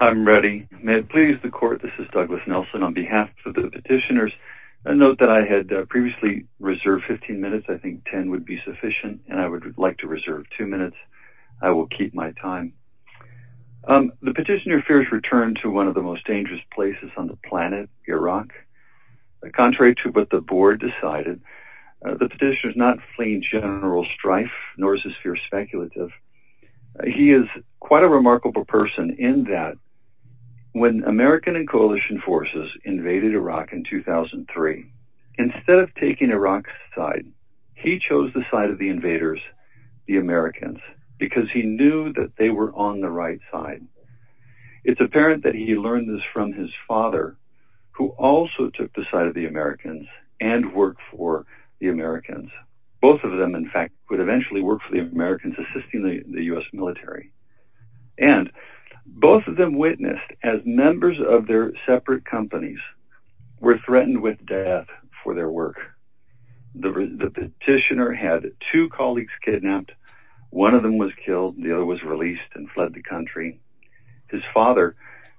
I'm ready. May it please the court, this is Douglas Nelson on behalf of the petitioners. A note that I had previously reserved 15 minutes. I think 10 would be sufficient and I would like to reserve two minutes. I will keep my time. The petitioner fears return to one of the most dangerous places on the planet, Iraq. Contrary to what the board decided, the petitioner is not fleeing general strife, nor is his fear speculative. He is quite a remarkable person in that when American and coalition forces invaded Iraq in 2003, instead of taking Iraq's side, he chose the side of the invaders, the Americans, because he knew that they were on the right side. It's apparent that he learned this from his father, who also took the side of the Americans and worked for the Americans. Both of them in eventually worked for the Americans, assisting the US military, and both of them witnessed as members of their separate companies were threatened with death for their work. The petitioner had two colleagues kidnapped, one of them was killed, the other was released and fled the country. His father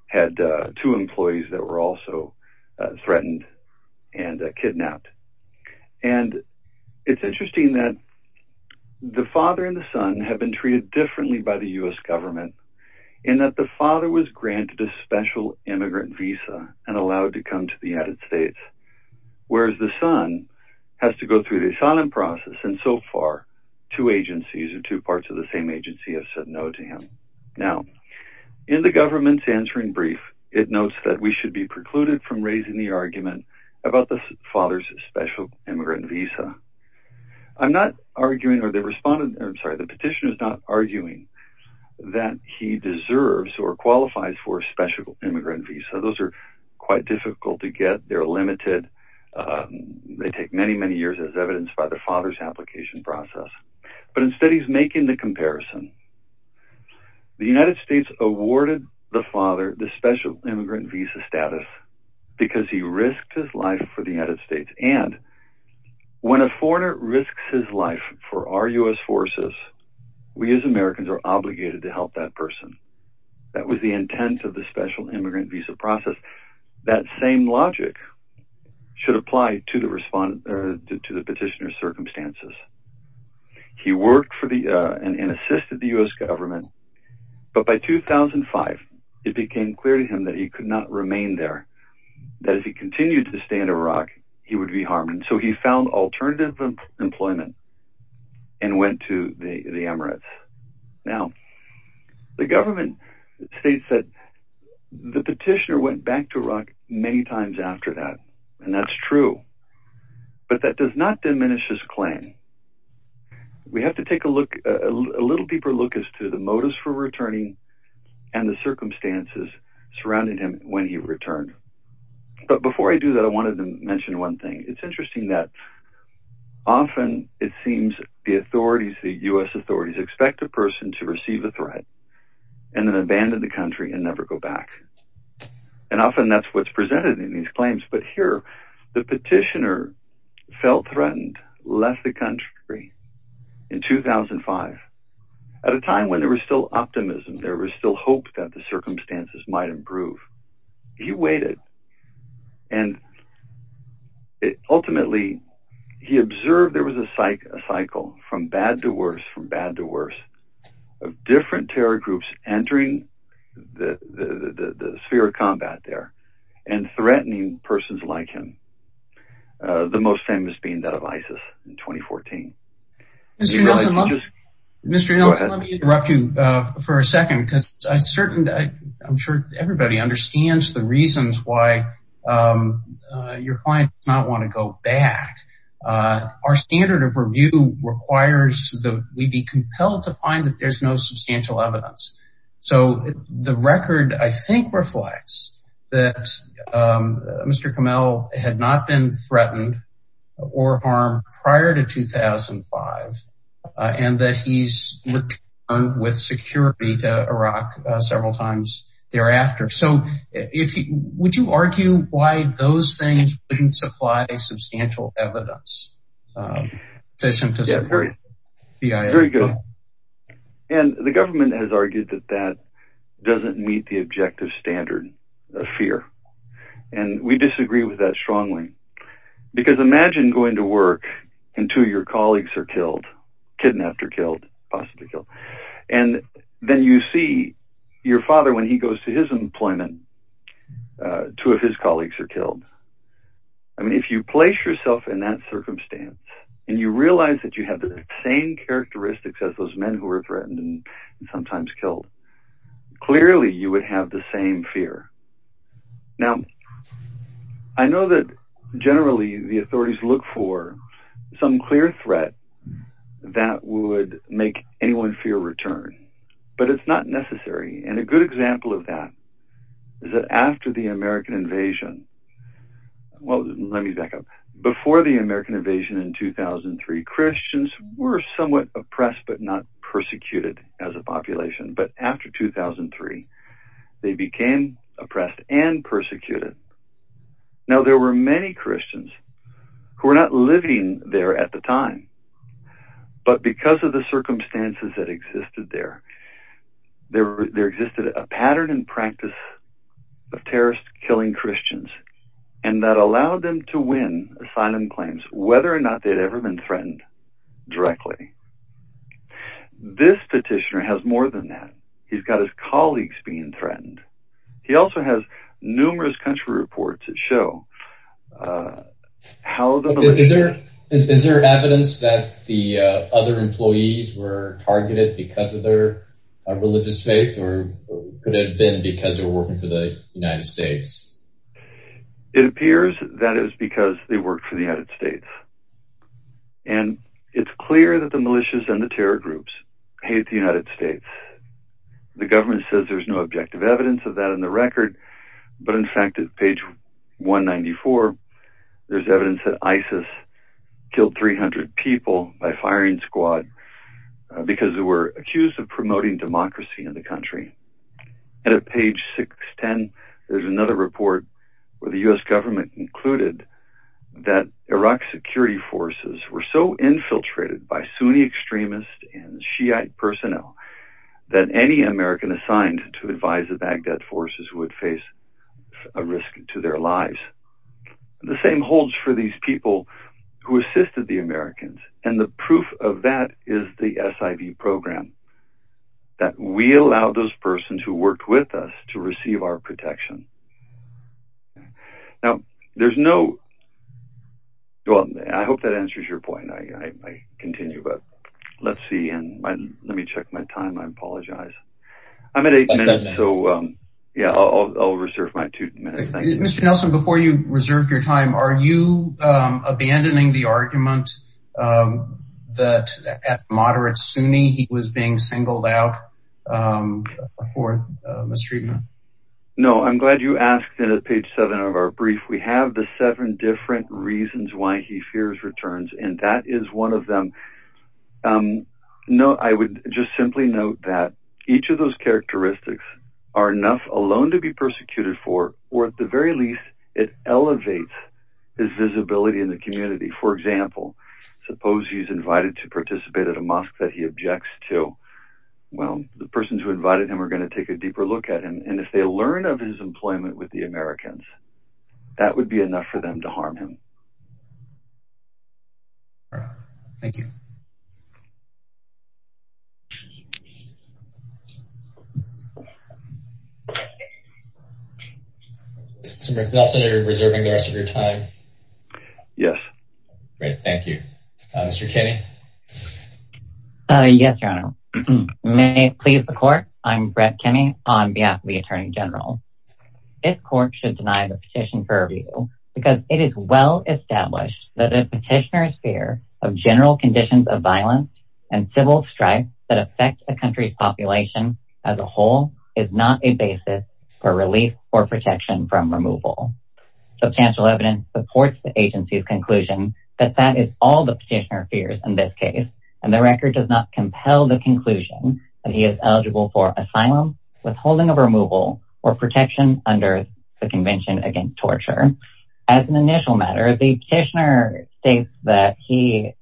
had two employees that were also threatened and kidnapped. It's interesting that the father and the son have been treated differently by the US government in that the father was granted a special immigrant visa and allowed to come to the United States, whereas the son has to go through the asylum process and so far two agencies or two parts of the same agency have said no to him. Now, in the government's answering brief, it notes that we should be precluded from raising the argument about the father's special immigrant visa. I'm not arguing, or the respondent, I'm sorry, the petitioner is not arguing that he deserves or qualifies for a special immigrant visa. Those are quite difficult to get, they're limited, they take many, many years as evidenced by the father's application process, but instead he's making the comparison. The United States awarded the father the special immigrant visa status because he risked his life for the United States and when a foreigner risks his life for our US forces, we as Americans are obligated to help that person. That was the intent of the special immigrant visa process. That same logic should apply to the petitioner's circumstances. He worked and assisted the US government, but by 2005, it became clear to him that he could not remain there, that if he continued to stay in Iraq, he would be harmed, and so he found alternative employment and went to the Emirates. Now, the government states that the petitioner went back to Iraq many times. We have to take a look, a little deeper look, as to the motives for returning and the circumstances surrounding him when he returned, but before I do that, I wanted to mention one thing. It's interesting that often it seems the authorities, the US authorities, expect a person to receive a threat and then abandon the country and never go back, and often that's what's presented in these claims, but here the petitioner felt threatened, left the country in 2005 at a time when there was still optimism, there was still hope that the circumstances might improve. He waited and ultimately he observed there was a cycle from bad to worse, from bad to worse, of different terror groups entering the sphere of combat there and threatening persons like him, the most famous being that of ISIS in 2014. Mr. Nelson, let me interrupt you for a second because I'm sure everybody understands the reasons why your client does not want to go back. Our standard of substantial evidence. So, the record, I think, reflects that Mr. Kamel had not been threatened or harmed prior to 2005 and that he's returned with security to Iraq several times thereafter. So, would you argue why those things wouldn't supply substantial evidence sufficient to support BIA? Very good. And the government has argued that that doesn't meet the objective standard of fear and we disagree with that strongly because imagine going to work and two of your colleagues are killed, kidnapped or killed, possibly killed, and then you see your father when he goes to his employment, two of his colleagues are killed. I mean, if you place yourself in that circumstance and you realize that you have the same characteristics as those men who were threatened and sometimes killed, clearly you would have the same fear. Now, I know that generally the authorities look for some clear threat that would make anyone fear return, but it's not necessary and a good example of that is that after the Christians were somewhat oppressed but not persecuted as a population, but after 2003, they became oppressed and persecuted. Now, there were many Christians who were not living there at the time, but because of the circumstances that existed there, there existed a pattern and practice of terrorists killing Christians and that allowed them to win asylum claims, whether or not they'd ever been threatened directly. This petitioner has more than that. He's got his colleagues being threatened. He also has numerous country reports that show how... Is there evidence that the other employees were targeted because of their religious faith or could it have been because they're working for the United States? It appears that it was because they worked for the United States and it's clear that the militias and the terror groups hate the United States. The government says there's no objective evidence of that in the record, but in fact at page 194, there's evidence that ISIS killed 300 people by firing squad because they were accused of promoting democracy in the country. At page 610, there's another report where the U.S. government concluded that Iraq security forces were so infiltrated by Sunni extremists and Shiite personnel that any American assigned to advise the Baghdad forces would face a risk to their lives. The same holds for these people who assisted the Americans and the proof of that is the SIV program, that we allow those There's no... Well, I hope that answers your point. I continue, but let's see and let me check my time. I apologize. I'm at eight minutes, so yeah, I'll reserve my two minutes. Mr. Nelson, before you reserve your time, are you abandoning the argument that at moderate Sunni, he was being singled out for mistreatment? No, I'm glad you asked and at page 7 of our brief, we have the seven different reasons why he fears returns and that is one of them. No, I would just simply note that each of those characteristics are enough alone to be persecuted for, or at the very least, it elevates his visibility in the community. For example, suppose he's invited to participate at a mosque that he objects to. Well, the persons who invited him are going to take a deeper look at him and if they learn of his employment with the Americans, that would be enough for them to harm him. Thank you. Mr. Nelson, are you reserving the rest of your time? Yes. Great, thank you. Mr. Kenny? Yes, Your Honor. May it please the court, I'm Brett Kenny on behalf of the Attorney General. This court should deny the petition for review because it is well established that a petitioner's fear of general conditions of violence and civil strife that affect a country's population as a whole is not a basis for relief or protection from removal. Substantial evidence supports the in this case and the record does not compel the conclusion that he is eligible for asylum, withholding of removal, or protection under the Convention Against Torture. As an initial matter, the petitioner states that he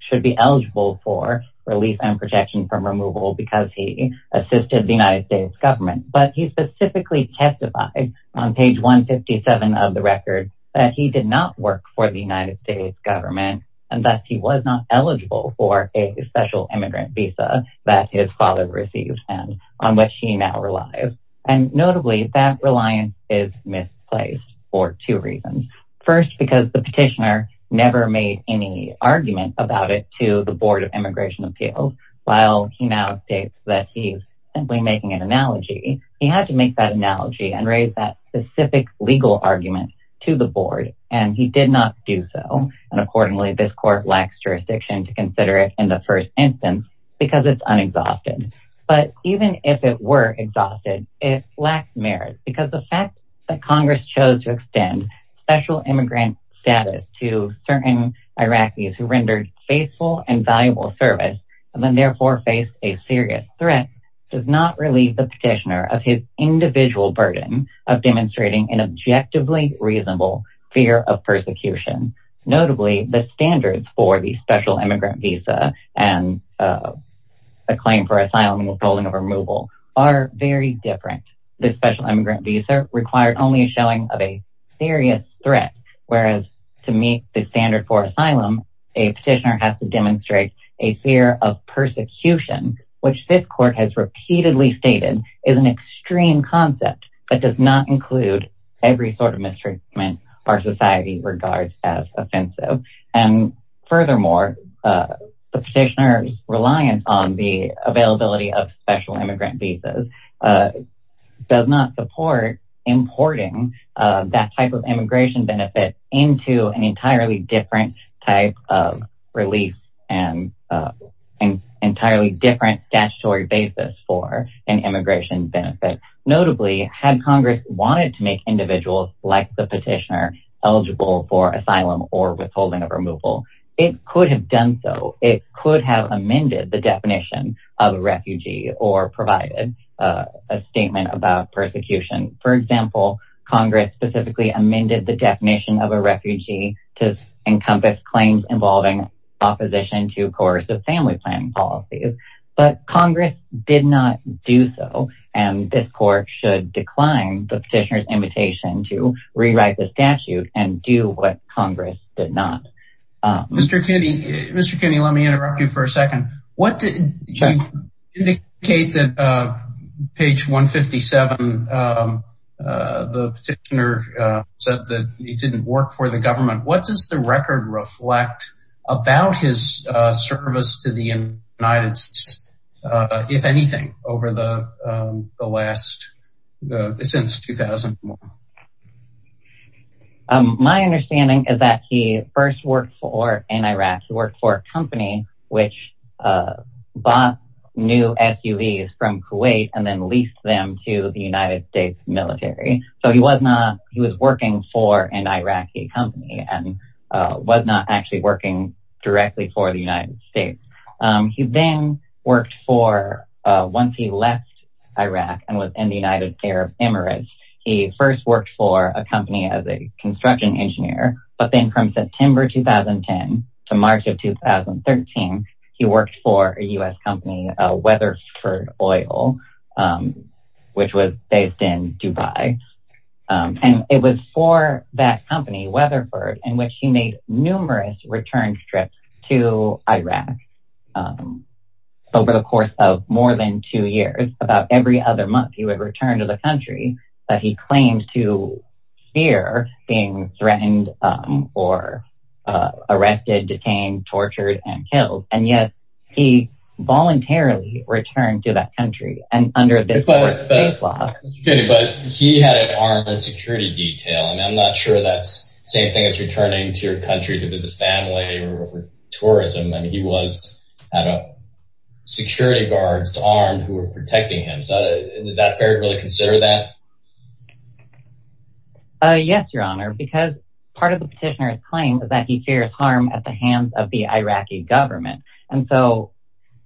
should be eligible for relief and protection from removal because he assisted the United States government, but he specifically testified on page 157 of the record that he did not work for the United States government and that he was not eligible for a special immigrant visa that his father received and on which he now relies. And notably, that reliance is misplaced for two reasons. First, because the petitioner never made any argument about it to the Board of Immigration Appeals. While he now states that he's simply making an analogy, he had to make that analogy and raise that specific legal argument to the board and he did not do so. And accordingly, this court lacks jurisdiction to consider it in the first instance because it's unexhausted. But even if it were exhausted, it lacked merit because the fact that Congress chose to extend special immigrant status to certain Iraqis who rendered faithful and valuable service and then therefore faced a serious threat does not relieve the petitioner of his individual burden of demonstrating an objectively reasonable fear of persecution. Notably, the standards for the special immigrant visa and a claim for asylum and withholding of removal are very different. The special immigrant visa required only a showing of a serious threat, whereas to meet the standard for asylum, a petitioner has to demonstrate a fear of persecution, which this court has repeatedly stated is an extreme concept that does not include every sort of mistreatment our society regards as offensive. And furthermore, the petitioner's reliance on the availability of special immigrant visas does not support importing that type of immigration benefit into an entirely different type of relief and an entirely different statutory basis for an immigration benefit. Notably, had Congress wanted to make individuals like the petitioner eligible for asylum or withholding of removal, it could have done so. It could have amended the definition of a refugee or provided a statement about persecution. For example, Congress specifically amended the definition of a refugee to encompass claims involving opposition to coercive family planning policies. But Congress did not do so. And this court should decline the petitioner's invitation to rewrite the statute and do what Congress did not. Mr. Kinney, Mr. Kinney, let me interrupt you for a second. What did you indicate that page 157, the petitioner said that it didn't work for the government? What does the record reflect about his service to the United States, if anything, over the last, since 2001? My understanding is that he first worked for, in Iraq, he worked for a company which bought new SUVs from Kuwait and then leased them to the United States military. So he was working for an Iraqi company and was not actually working directly for the United States. He then worked for, once he left Iraq and was in the United Arab Emirates, he first worked for a company as a construction engineer. But then from September 2010 to March of 2013, he worked for a U.S. company, Weatherford Oil, which was based in Dubai. And it was for that company, Weatherford, in which he made numerous return trips to Iraq over the course of more than two years. About every other month, he would return to the country that he claimed to fear being threatened or arrested, detained, tortured and killed. And yes, he voluntarily returned to that country and under this law, but he had an armed security detail. And I'm not sure that's the same thing as returning to your country to visit family or tourism. And he was at a security guard's arm who were protecting him. So is that fair to really consider that? Yes, Your Honor, because part of the petitioner's claim is that he fears harm at the hands of the Iraqi government. And so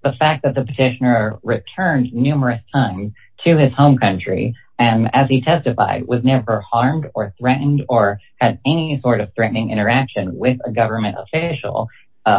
the fact that the petitioner returned numerous times to his home country and as he testified, was never harmed or threatened or had any sort of threatening interaction with a government official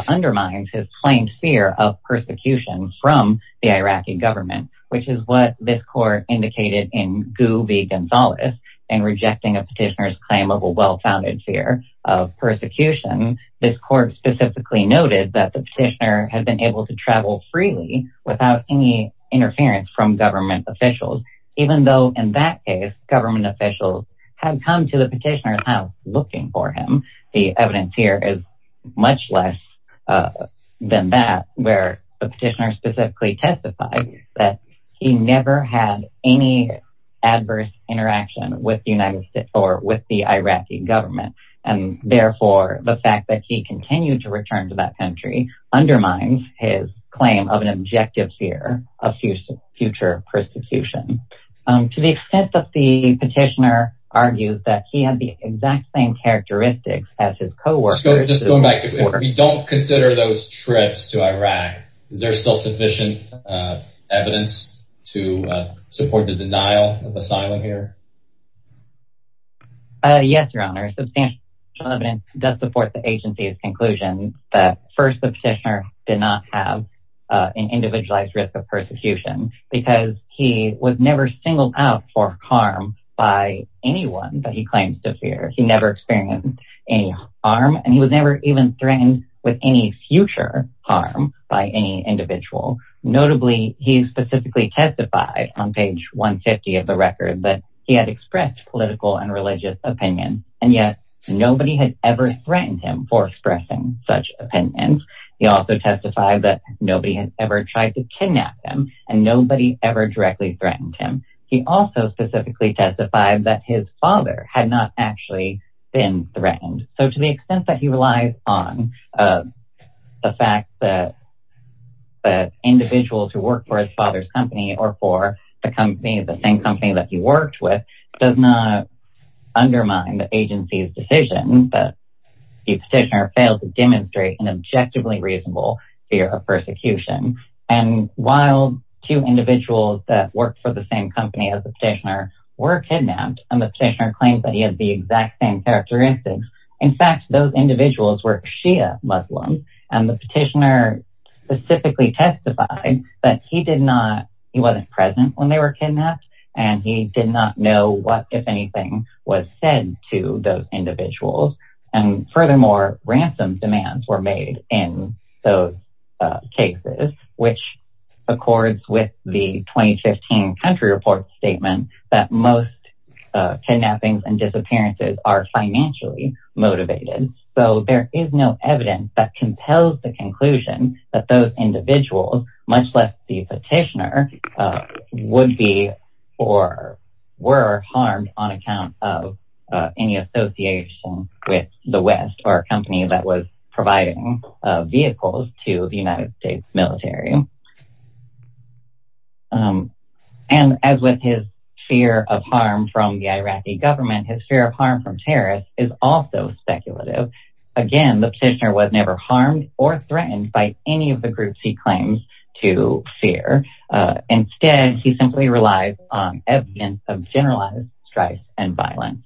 undermines his claimed fear of persecution from the Iraqi government, which is what this court indicated in Gu v. Gonzalez in rejecting a petitioner's claim of a well-founded fear of persecution. This court specifically noted that the petitioner had been able to travel freely without any interference from government officials, even though in that case, government officials had come to the petitioner's house looking for him. The evidence here is much less than that, where the petitioner specifically testified that he never had any adverse interaction with the United States or with the Iraqi government. And therefore, the fact that he continued to return to that country undermines his claim of an objective fear of future persecution to the extent that the petitioner argues that he had the exact same characteristics as his co-workers. Just going back, if we don't consider those trips to Iraq, is there still sufficient evidence to support the denial of asylum here? Yes, Your Honor, substantial evidence does support the agency's conclusion that first, the petitioner did not have an individualized risk of persecution because he was never singled out for harm by anyone that he claims to fear. He never experienced any harm, and he was never even threatened with any future harm by any individual. Notably, he specifically testified on page 150 of the record that he had never experienced political and religious opinions, and yet nobody had ever threatened him for expressing such opinions. He also testified that nobody had ever tried to kidnap him, and nobody ever directly threatened him. He also specifically testified that his father had not actually been threatened. So to the extent that he relies on the fact that individuals who work for his father's the company, the same company that he worked with, does not undermine the agency's decision that the petitioner failed to demonstrate an objectively reasonable fear of persecution. And while two individuals that worked for the same company as the petitioner were kidnapped, and the petitioner claimed that he had the exact same characteristics, in fact, those individuals were Shia Muslims, and the petitioner specifically testified that he did not, he wasn't present when they were kidnapped, and he did not know what, if anything, was said to those individuals. And furthermore, ransom demands were made in those cases, which accords with the 2015 country report statement that most kidnappings and disappearances are financially motivated. So there is no evidence that compels the conclusion that those individuals, much less the petitioner, would be or were harmed on account of any association with the West or a company that was providing vehicles to the United States military. And as with his fear of harm from the Iraqi government, his fear of harm from terrorists is also speculative. Again, the petitioner was never harmed or threatened by any of the groups he claims to fear. Instead, he simply relies on evidence of generalized strife and violence.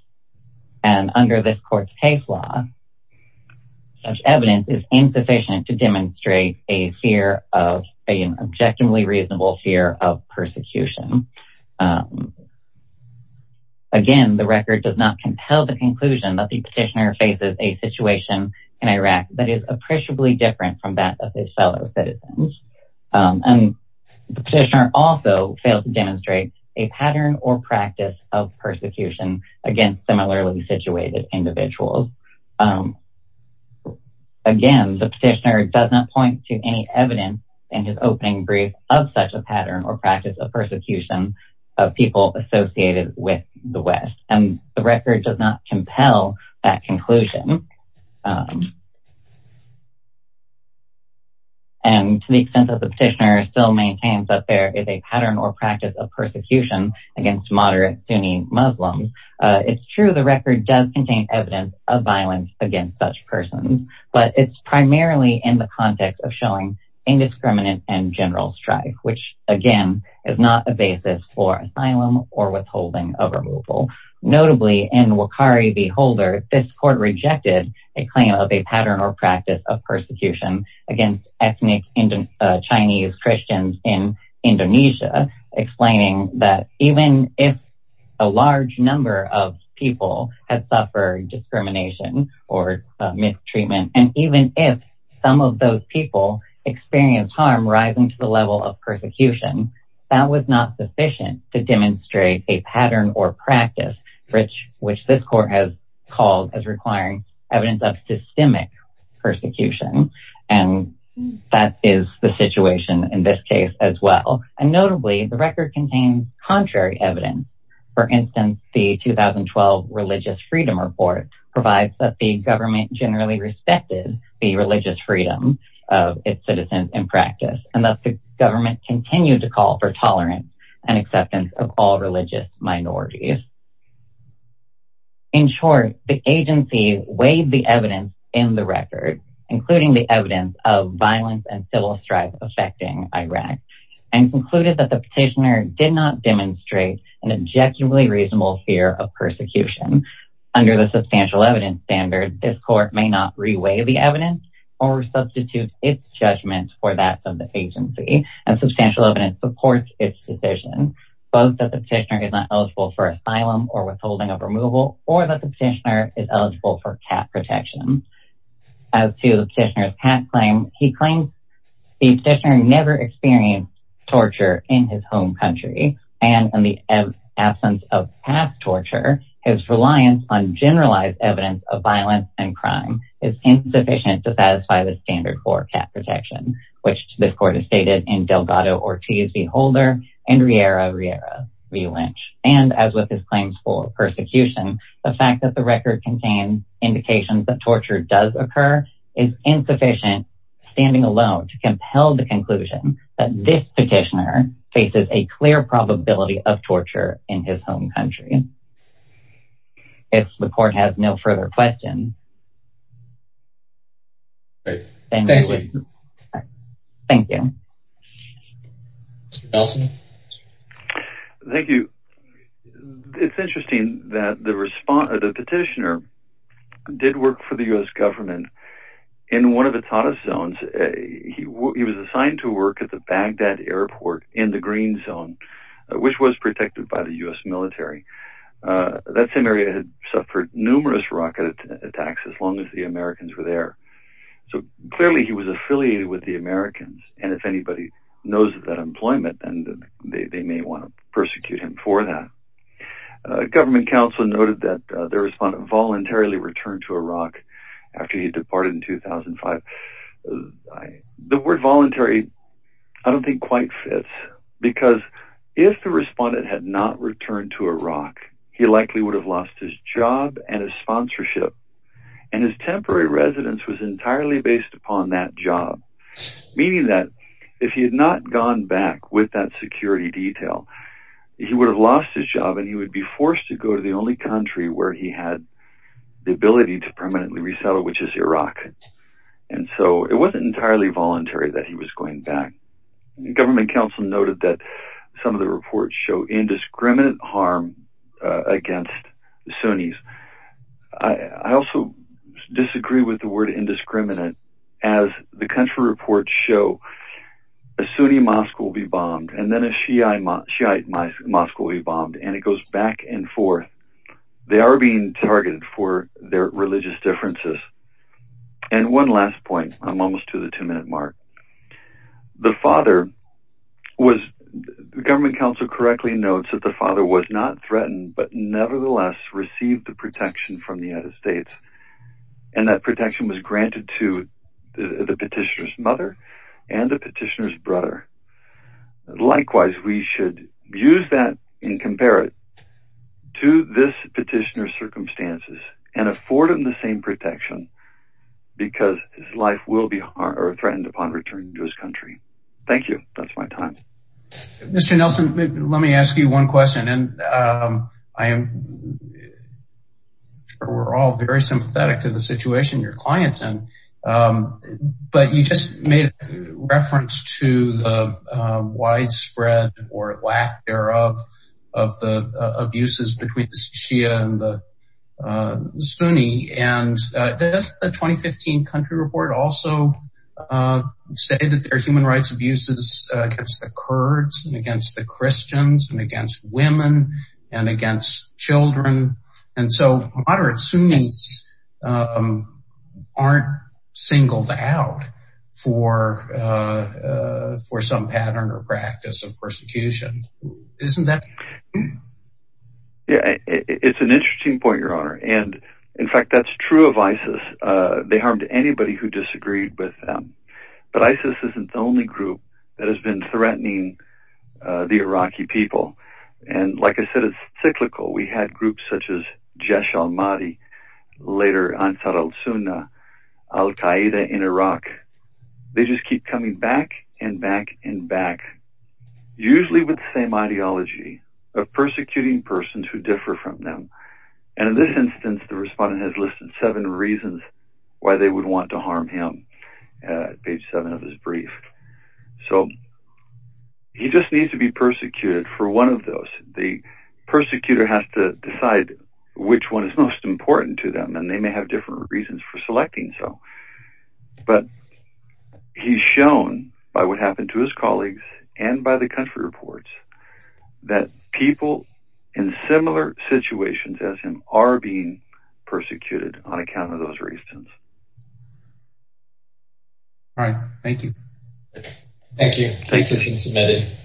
And under this court's case law, such evidence is insufficient to demonstrate a fear of, an objectively reasonable fear of persecution. Again, the record does not compel the conclusion that the petitioner faces a situation in Iraq that is appreciably different from that of his fellow citizens. And the petitioner also fails to demonstrate a pattern or practice of persecution against similarly situated individuals. Again, the petitioner does not point to any evidence in his opening brief of such a pattern or practice of persecution of people associated with the West. And to the extent that the petitioner still maintains that there is a pattern or practice of persecution against moderate Sunni Muslims, it's true the record does contain evidence of violence against such persons, but it's primarily in the context of showing indiscriminate and general strife, which again, is not a basis for asylum or withholding of removal. Notably in Wakari Beholder, this court rejected a claim of a pattern or practice of persecution against ethnic Chinese Christians in Indonesia, explaining that even if a large number of people have suffered discrimination or mistreatment, and even if some of those people experience harm rising to the level of persecution, that was not sufficient to demonstrate a pattern or practice, which this court has called as requiring evidence of systemic persecution. And that is the situation in this case as well. And notably, the record contains contrary evidence. For instance, the 2012 Religious Freedom Report provides that the government generally respected the religious freedom of its citizens in practice, and that the government continued to call for tolerance and acceptance of all religious minorities. In short, the agency weighed the evidence in the record, including the evidence of violence and civil strife affecting Iraq, and concluded that the petitioner did not demonstrate an objectively reasonable fear of persecution. Under the substantial evidence standard, this court may not reweigh the evidence or substitute its judgment for that of the agency. And substantial evidence supports its decision, both that the petitioner is not eligible for asylum or withholding of removal, or that the petitioner is eligible for cap protection. As to the petitioner's past claim, he claims the petitioner never experienced torture in his home country. And in the absence of past torture, his reliance on generalized evidence of violence and crime is insufficient to satisfy the standard for cap protection, which this court has stated in Delgado-Ortiz v. Holder and Riera v. Lynch. And as with his claims for persecution, the fact that the record contains indications that torture does occur is insufficient, standing alone to compel the conclusion that this petitioner faces a clear probability of torture in his home country. If the court has no further questions, thank you. Thank you. Mr. Nelson? Thank you. It's interesting that the petitioner did work for the U.S. government. In one of the TATAS zones, he was assigned to work at the Baghdad airport in the green zone, which was protected by the U.S. military. That same area had suffered numerous rocket attacks, as long as the Americans were there. So clearly, he was affiliated with the Americans. And if anybody knows of that employment, then they may want to persecute him for that. Government counsel noted that the respondent voluntarily returned to Iraq after he departed in 2005. The word voluntary, I don't think quite fits, because if the respondent had not returned to Iraq, he likely would have lost his job and his sponsorship. And his temporary residence was entirely based upon that job, meaning that if he had not gone back with that security detail, he would have lost his job, and he would be forced to go to the only country where he had the ability to permanently resettle, which is Iraq. And so it wasn't entirely voluntary that he was going back. Government counsel noted that some of the reports show indiscriminate harm against Sunnis. I also disagree with the word indiscriminate, as the country reports show a Sunni mosque will be bombed, and then a Shiite mosque will be bombed, and it goes back and forth. They are being targeted for their religious differences. And one last point, I'm almost to the two-minute mark. The father was, government counsel correctly notes that the father was not threatened, but nevertheless received the protection from the United States. And that protection was granted to the petitioner's mother and the petitioner's brother. Likewise, we should use that and compare it to this petitioner's circumstances, and afford him the same protection because his life will be threatened upon returning to his country. Thank you. That's my time. Mr. Nelson, let me ask you one question, and we're all very sympathetic to the situation your client's in, but you just made reference to the widespread or lack thereof of the abuses between the Shia and the Sunni, and the 2015 country report also stated that there are human rights abuses against the Kurds, and against the Christians, and against women, and against children, and so moderate Sunnis aren't singled out for some pattern or practice of persecution. Isn't that? Yeah, it's an interesting point, your honor. And in fact, that's true of ISIS. They harmed anybody who disagreed with them. But ISIS isn't the only group that has been threatening the Iraqi people. And like I said, it's cyclical. We had groups such as Jesh al-Mahdi, later Ansar al-Sunnah, al-Qaeda in Iraq. They just keep coming back, and back, and back. Usually with the same ideology of persecuting persons who differ from them. And in this instance, the respondent has listed seven reasons why they would want to harm him, page seven of his brief. So, he just needs to be persecuted for one of those. The persecutor has to decide which one is most important to them, and they may have different reasons for selecting so. But he's shown, by what happened to his colleagues, and by the country reports, that people in similar situations as him are being persecuted on account of those reasons. All right. Thank you. Thank you. Case has been submitted.